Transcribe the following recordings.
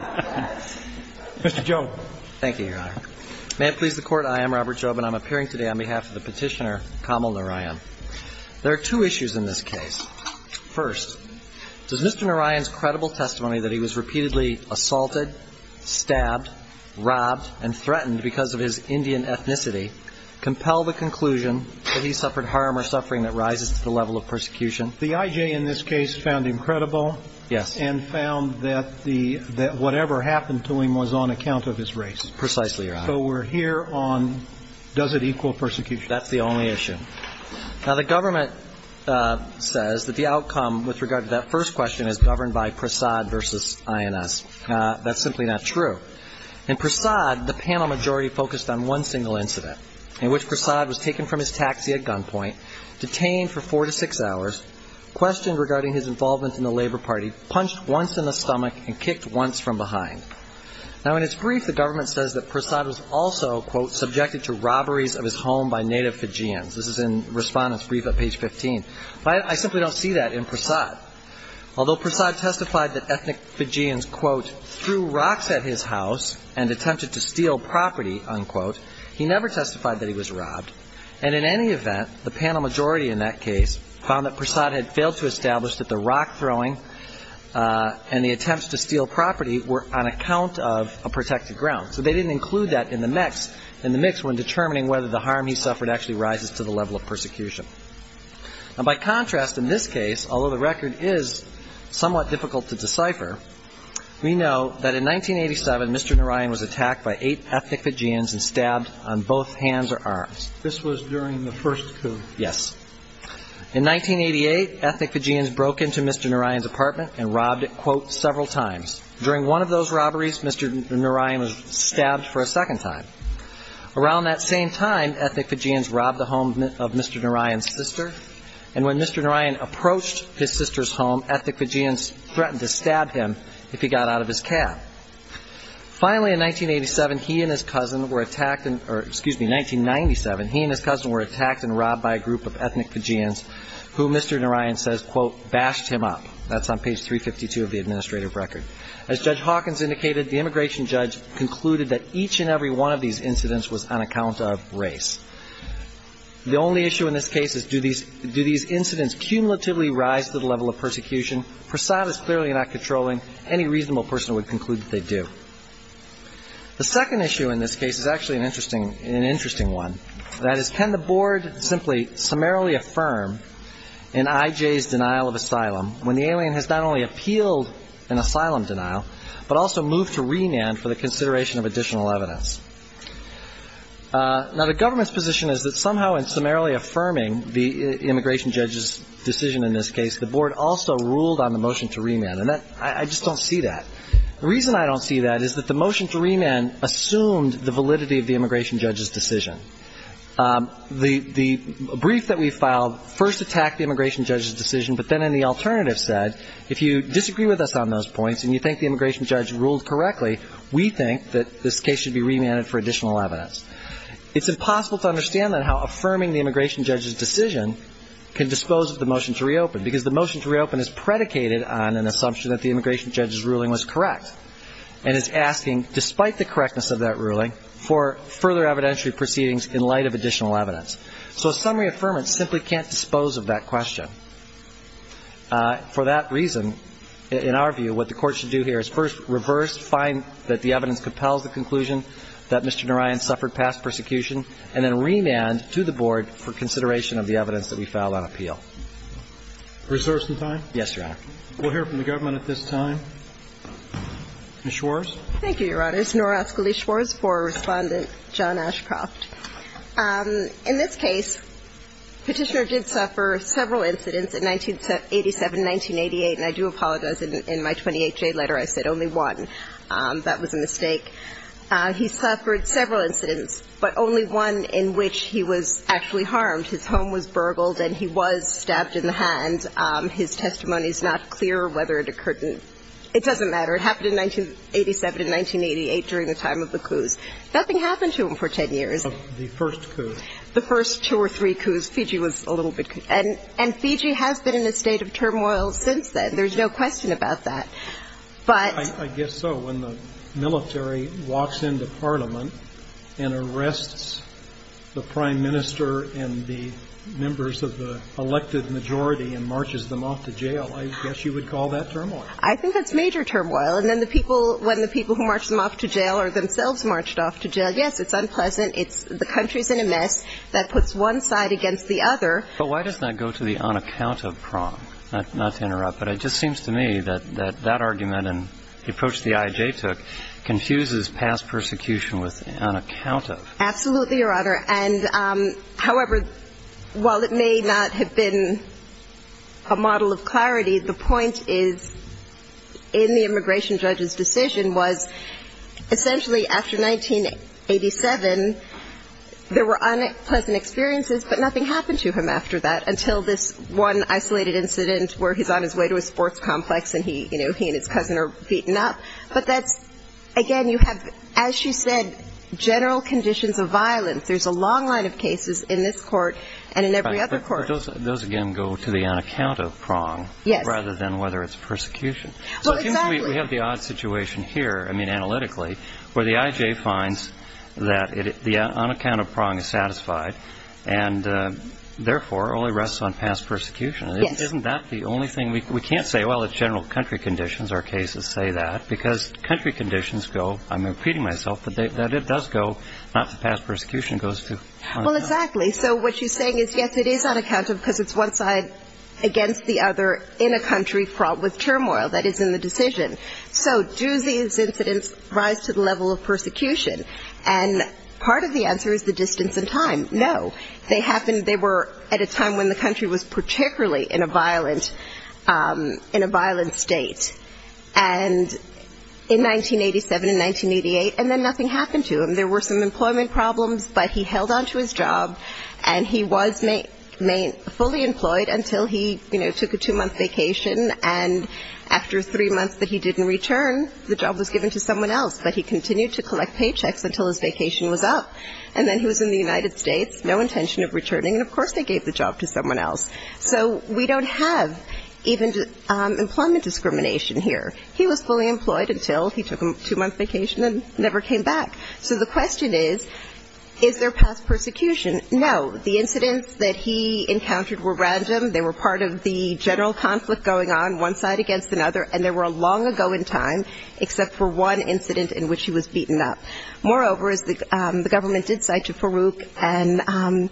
Mr. Job. Thank you, Your Honor. May it please the Court, I am Robert Job and I'm appearing today on behalf of the petitioner Kamal Narayan. There are two issues in this case. First, does Mr. Narayan's credible testimony that he was repeatedly assaulted, stabbed, robbed, and threatened because of his Indian ethnicity compel the conclusion that he suffered harm or suffering that rises to the level of persecution? The I.J. in this case found him credible. Yes. And found that the, that whatever happened to him was on account of his race. Precisely, Your Honor. So we're here on does it equal persecution? That's the only issue. Now, the government says that the outcome with regard to that first question is governed by Prasad v. INS. That's simply not true. In Prasad, the panel majority focused on one single incident in which Prasad was taken from his taxi at gunpoint, detained for four to six hours, questioned regarding his involvement in the Labor Party, punched once in the stomach, and kicked once from behind. Now, in its brief, the government says that Prasad was also, quote, subjected to robberies of his home by native Fijians. This is in Respondent's brief at page 15. But I, I simply don't see that in Prasad. Although Prasad testified that ethnic Fijians, quote, threw rocks at his house and attempted to steal property, unquote, he never testified that he was robbed. And in any event, the panel majority in that case found that Prasad had failed to establish that the rock throwing and the attempts to steal property were on account of a protected ground. So they didn't include that in the mix, in the mix when determining whether the harm he suffered actually rises to the level of persecution. Now, by contrast, in this case, although the record is somewhat difficult to decipher, we know that in 1987, Mr. Narayan was attacked by eight ethnic Fijians and stabbed on both hands or arms. This was during the first coup? Yes. In 1988, ethnic Fijians broke into Mr. Narayan's apartment and robbed it, quote, several times. During one of those robberies, Mr. Narayan was stabbed for a second time. Around that same time, ethnic Fijians robbed the home of Mr. Narayan's sister. And when Mr. Narayan approached his sister's home, ethnic Fijians threatened to stab him if he got out of his cab. Finally, in 1987, he and his cousin were attacked or excuse me, 1997, he and his cousin were attacked and robbed by a group of ethnic Fijians who Mr. Narayan says, quote, bashed him up. That's on page 352 of the administrative record. As Judge Hawkins indicated, the immigration judge concluded that each and every one of these incidents was on account of race. The only issue in this case is do these incidents cumulatively rise to the level of persecution? Prasad is clearly not controlling. Any reasonable person would conclude that they do. The second issue in this case is actually an interesting one. That is, can the Board simply summarily affirm in I.J.'s denial of asylum when the alien has not only appealed an asylum denial, but also moved to renown for the consideration of additional evidence? Now, the government's position is that somehow in summarily affirming the immigration judge's decision in this case, the Board also ruled on the motion to remand. And I just don't see that. The reason I don't see that is that the motion to remand assumed the validity of the immigration judge's decision. The brief that we filed first attacked the immigration judge's decision, but then in the alternative said, if you disagree with us on those points and you think the immigration judge ruled correctly, we think that this case should be remanded for additional evidence. It's impossible to understand, then, how affirming the immigration judge's decision can dispose of the motion to reopen, because the motion to reopen is predicated on an assumption that the immigration judge's ruling was correct and is asking, despite the correctness of that ruling, for further evidentiary proceedings in light of additional evidence. So a summary affirmance simply can't dispose of that question. For that reason, in our view, what the Court should do here is first reverse, find that the evidence compels the conclusion that Mr. Narayan suffered past persecution, and then remand to the Board for consideration of the Reserves some time? Yes, Your Honor. We'll hear from the government at this time. Ms. Schwarz? Thank you, Your Honors. Nora Ascoli-Schwarz for Respondent John Ashcroft. In this case, Petitioner did suffer several incidents in 1987 and 1988, and I do apologize. In my 28-J letter, I said only one. That was a mistake. He suffered several incidents, but only one in which he was actually harmed. His home was burgled, and he was stabbed in the back of the head, and he was stabbed in the hand. His testimony is not clear whether it occurred in – it doesn't matter. It happened in 1987 and 1988 during the time of the coups. Nothing happened to him for 10 years. The first coup. The first two or three coups. Fiji was a little bit – and Fiji has been in a state of turmoil since then. There's no question about that. But – I guess so. When the military walks into Parliament and arrests the Prime Minister and the members of the elected majority and marches them off to jail, I guess you would call that turmoil. I think that's major turmoil. And then the people – when the people who march them off to jail are themselves marched off to jail, yes, it's unpleasant. It's – the country's in a mess. That puts one side against the other. But why does that go to the on-account-of prong? Not to interrupt, but it just seems to me that that argument and the approach the IJ took confuses past persecution with on-account-of. Absolutely, Your Honor. And however, while it may not have been a model of clarity, the point is, in the immigration judge's decision, was essentially after 1987, there were unpleasant experiences, but nothing happened to him after that, until this one isolated incident where he's on his way to a sports complex and he and his cousin are beaten up. But that's – again, you have, as she said, general conditions of violence. There's a long line of cases in this court and in every other court. But those, again, go to the on-account-of prong rather than whether it's persecution. Well, exactly. So it seems we have the odd situation here, I mean, analytically, where the IJ finds that the on-account-of prong is satisfied and, therefore, only rests on past persecution. Yes. Isn't that the only thing – we can't say, well, it's general country conditions, our cases say that, because country conditions go – I'm impeding myself – that it does go not to past persecution, it goes to on-account-of. Well, exactly. So what she's saying is, yes, it is on-account-of because it's one side against the other in a country fraught with turmoil that is in the decision. So do these incidents rise to the level of persecution? And part of the answer is the distance in time. No. They happened – they were at a time when the country was particularly in a violent – in a violent state. And in 1987 and 1988, and then nothing happened to him. There were some employment problems, but he held on to his job, and he was fully employed until he, you know, took a two-month vacation. And after three months that he didn't return, the job was given to someone else. But he continued to collect paychecks until his vacation was up. And then he was in the United States, no intention of returning. And, of course, they gave the job to someone else. So we don't have even employment discrimination here. He was fully employed until he took a two-month vacation and never came back. So the question is, is there past persecution? No. The incidents that he encountered were random. They were part of the general conflict going on, one side against another, and they were long ago in time, except for one incident in which he was beaten up. Moreover, as the government did cite to Farouk,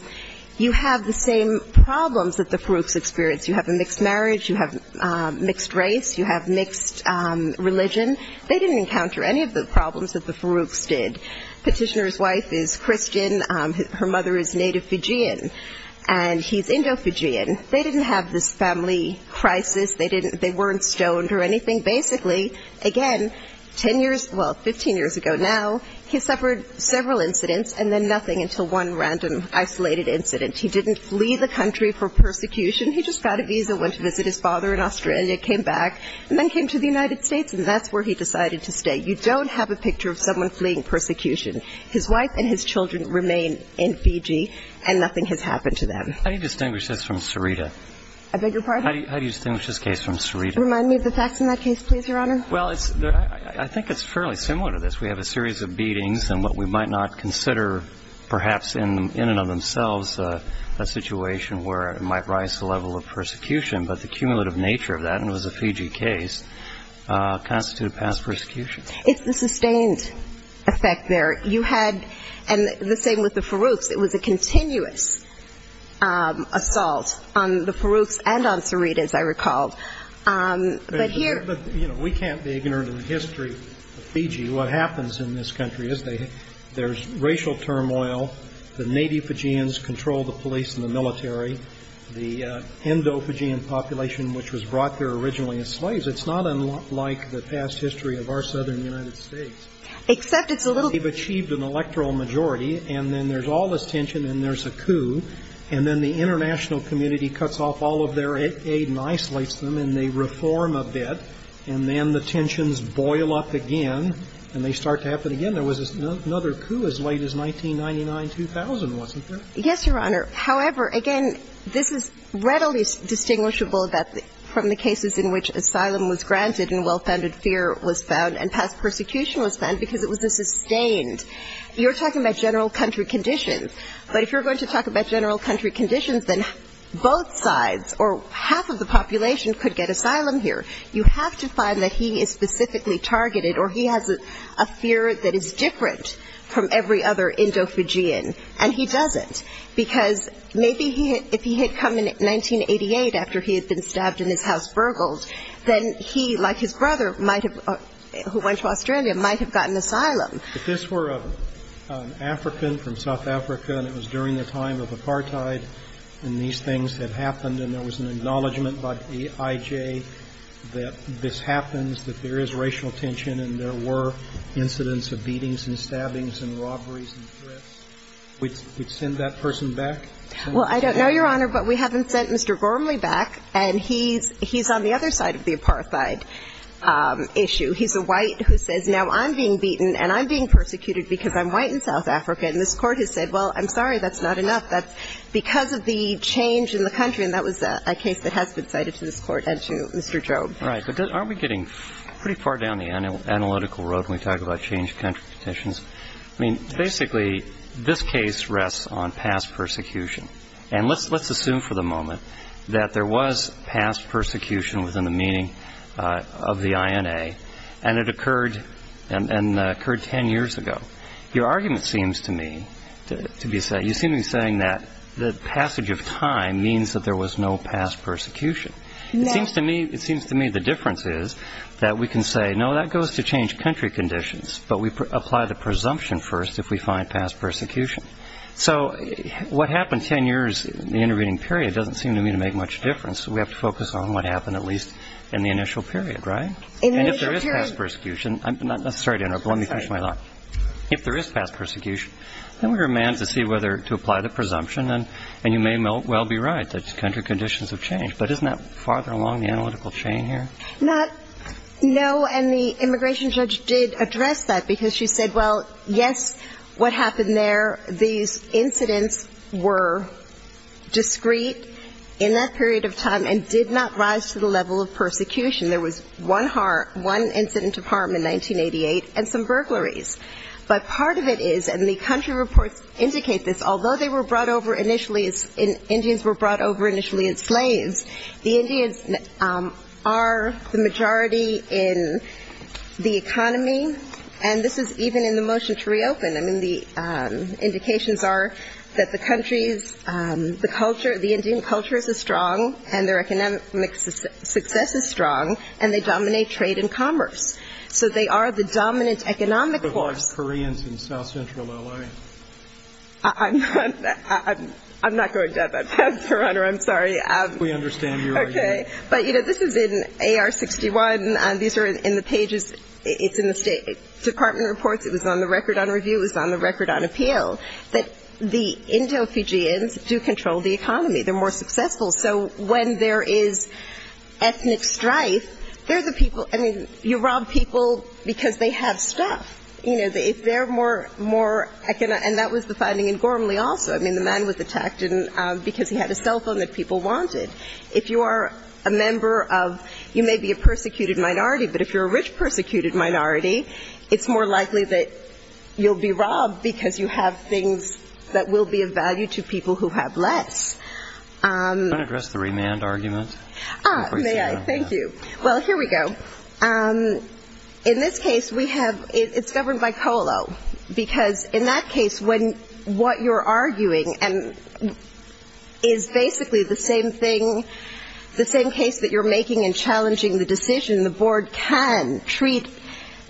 you have the same problems that the Farouks experienced. You have a mixed marriage. You have mixed race. You have mixed religion. They didn't encounter any of the problems that the Farouks did. Petitioner's wife is Christian. Her mother is native Fijian, and he's Indo-Fijian. They didn't have this family crisis. They weren't stoned or anything. Basically, again, 10 years, well, 15 years ago now, he suffered several incidents and then nothing until one random isolated incident. He didn't flee the country for persecution. He just got a visa, went to visit his father in Australia, came back, and then came to the United States, and that's where he decided to stay. You don't have a picture of someone fleeing persecution. His wife and his children remain in Fiji, and nothing has happened to them. How do you distinguish this from Sarita? I beg your pardon? How do you distinguish this case from Sarita? Remind me of the facts in that case, please, Your Honor. Well, I think it's fairly similar to this. We have a series of beatings and what we might not consider perhaps in and of themselves a situation where it might rise to the level of persecution, but the cumulative nature of that, and it was a Fiji case, constituted past persecution. It's the sustained effect there. You had, and the same with the Farouks, it was a continuous assault on the Farouks and on Sarita, as I recall. But here we can't be ignorant of the history of Fiji. What happens in this country is there's racial turmoil. The native Fijians control the police and the military. The Indo-Fijian population, which was brought there originally as slaves, it's not unlike the past history of our southern United States. Except it's a little. They've achieved an electoral majority, and then there's all this tension and there's a coup, and then the international community cuts off all of their aid and isolates them, and they reform a bit. And then the tensions boil up again, and they start to happen again. There was another coup as late as 1999-2000, wasn't there? Yes, Your Honor. However, again, this is readily distinguishable that from the cases in which asylum was granted and well-founded fear was found and past persecution was found because it was a sustained. You're talking about general country conditions, but if you're going to talk about general country conditions, then both sides or half of the population could get asylum here. You have to find that he is specifically targeted or he has a fear that is different from every other Indo-Fijian, and he doesn't. Because maybe if he had come in 1988 after he had been stabbed and his house burgled, then he, like his brother, who went to Australia, might have gotten asylum. If this were an African from South Africa and it was during the time of apartheid and these things had happened and there was an acknowledgment by the IJ that this happens, that there is racial tension and there were incidents of beatings and stabbings and robberies and threats, would you send that person back? Well, I don't know, Your Honor, but we haven't sent Mr. Gormley back, and he's on the other side of the apartheid issue. He's a white who says, now I'm being beaten and I'm being persecuted because I'm white in South Africa. And this Court has said, well, I'm sorry, that's not enough. That's because of the change in the country, and that was a case that has been cited to this Court and to Mr. Job. Right. But aren't we getting pretty far down the analytical road when we talk about changed country conditions? I mean, basically, this case rests on past persecution. And let's assume for the moment that there was past persecution within the meaning of the INA, and it occurred ten years ago. Your argument seems to me to be saying that the passage of time means that there was no past persecution. No. It seems to me the difference is that we can say, no, that goes to changed country conditions, but we apply the presumption first if we find past persecution. So what happened ten years in the intervening period doesn't seem to me to make much difference. We have to focus on what happened at least in the initial period, right? In the initial period. And if there is past persecution, not necessarily, but let me finish my thought. If there is past persecution, then we're a man to see whether to apply the presumption, and you may well be right that country conditions have changed. But isn't that farther along the analytical chain here? Not no, and the immigration judge did address that because she said, well, yes, what happened there, these incidents were discreet in that period of time and did not rise to the level of persecution. There was one incident of harm in 1988 and some burglaries. But part of it is, and the country reports indicate this, although they were brought over initially as Indians were brought over initially as slaves, the Indians are the majority in the economy, and this is even in the motion to condemn them. The indications are that the countries, the culture, the Indian culture is strong and their economic success is strong, and they dominate trade and commerce. So they are the dominant economic force. But what of Koreans in south central L.A.? I'm not going down that path, Your Honor. I'm sorry. We understand your argument. Okay. But, you know, this is in AR-61. These are in the pages. It's in the State Department reports. It was on the record on review. It was on the record on appeal that the Indo-Fijians do control the economy. They're more successful. So when there is ethnic strife, they're the people. I mean, you rob people because they have stuff. You know, if they're more economic, and that was the finding in Gormley also. I mean, the man was attacked because he had a cell phone that people wanted. If you are a member of you may be a persecuted minority, but if you're a rich you'll be robbed because you have things that will be of value to people who have less. Can I address the remand argument? May I? Thank you. Well, here we go. In this case, we have ‑‑ it's governed by COLO. Because in that case, what you're arguing is basically the same thing, the same case that you're making and challenging the decision. The board can treat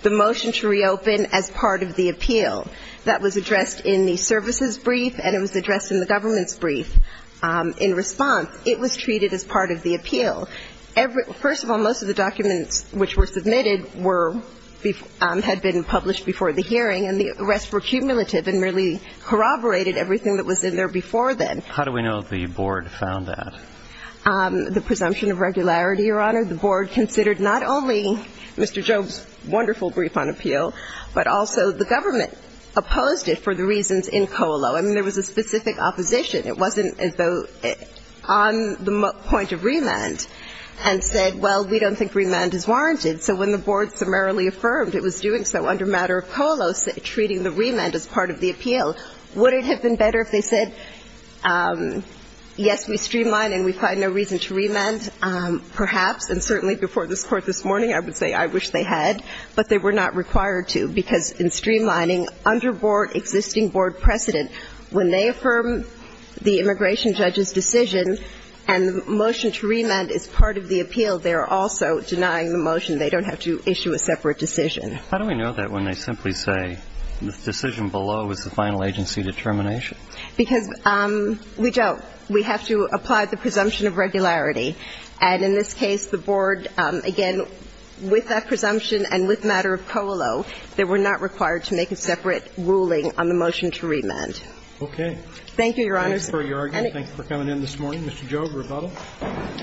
the motion to reopen as part of the appeal. That was addressed in the services brief, and it was addressed in the government's brief. In response, it was treated as part of the appeal. First of all, most of the documents which were submitted had been published before the hearing, and the arrests were cumulative and really corroborated everything that was in there before then. How do we know the board found that? The presumption of regularity, Your Honor. The board considered not only Mr. Job's wonderful brief on appeal, but also the government opposed it for the reasons in COLO. I mean, there was a specific opposition. It wasn't on the point of remand and said, well, we don't think remand is warranted. So when the board summarily affirmed it was doing so under matter of COLO, treating the remand as part of the appeal, would it have been better if they said, yes, we streamline and we find no reason to remand, perhaps, and certainly before this Court this morning I would say I wish they had, but they were not required to because in streamlining under board existing board precedent, when they affirm the immigration judge's decision and the motion to remand is part of the appeal, they are also denying the motion. They don't have to issue a separate decision. How do we know that when they simply say the decision below is the final agency determination? Because we don't. We have to apply the presumption of regularity. And in this case, the board, again, with that presumption and with matter of COLO, they were not required to make a separate ruling on the motion to remand. Okay. Thank you, Your Honor. Thank you for your argument. Thank you for coming in this morning. Mr. Job, rebuttal.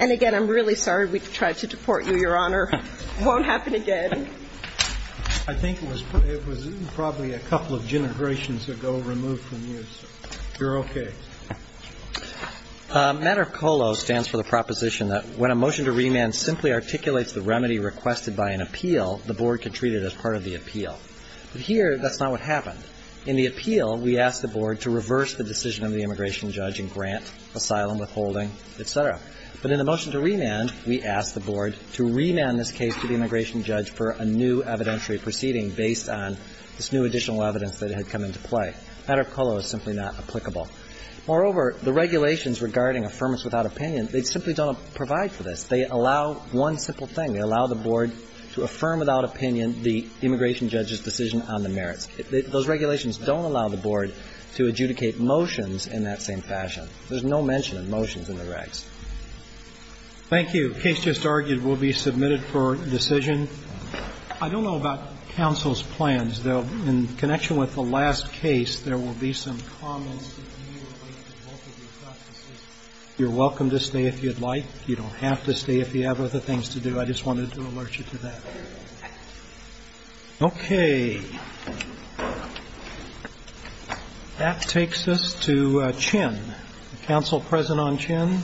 And, again, I'm really sorry we tried to deport you, Your Honor. It won't happen again. I think it was probably a couple of generations ago removed from use. You're okay. Matter of COLO stands for the proposition that when a motion to remand simply articulates the remedy requested by an appeal, the board can treat it as part of the appeal. But here that's not what happened. In the appeal, we asked the board to reverse the decision of the immigration judge and grant asylum, withholding, et cetera. But in the motion to remand, we asked the board to remand this case to the immigration judge for a new evidentiary proceeding based on this new additional evidence that had come into play. Matter of COLO is simply not applicable. Moreover, the regulations regarding affirmance without opinion, they simply don't provide for this. They allow one simple thing. They allow the board to affirm without opinion the immigration judge's decision on the merits. Those regulations don't allow the board to adjudicate motions in that same fashion. There's no mention of motions in the regs. Thank you. The case just argued will be submitted for decision. I don't know about counsel's plans, though. In connection with the last case, there will be some comments that you relate to both of your practices. You're welcome to stay if you'd like. You don't have to stay if you have other things to do. I just wanted to alert you to that. Okay. That takes us to Chin. Counsel present on Chin?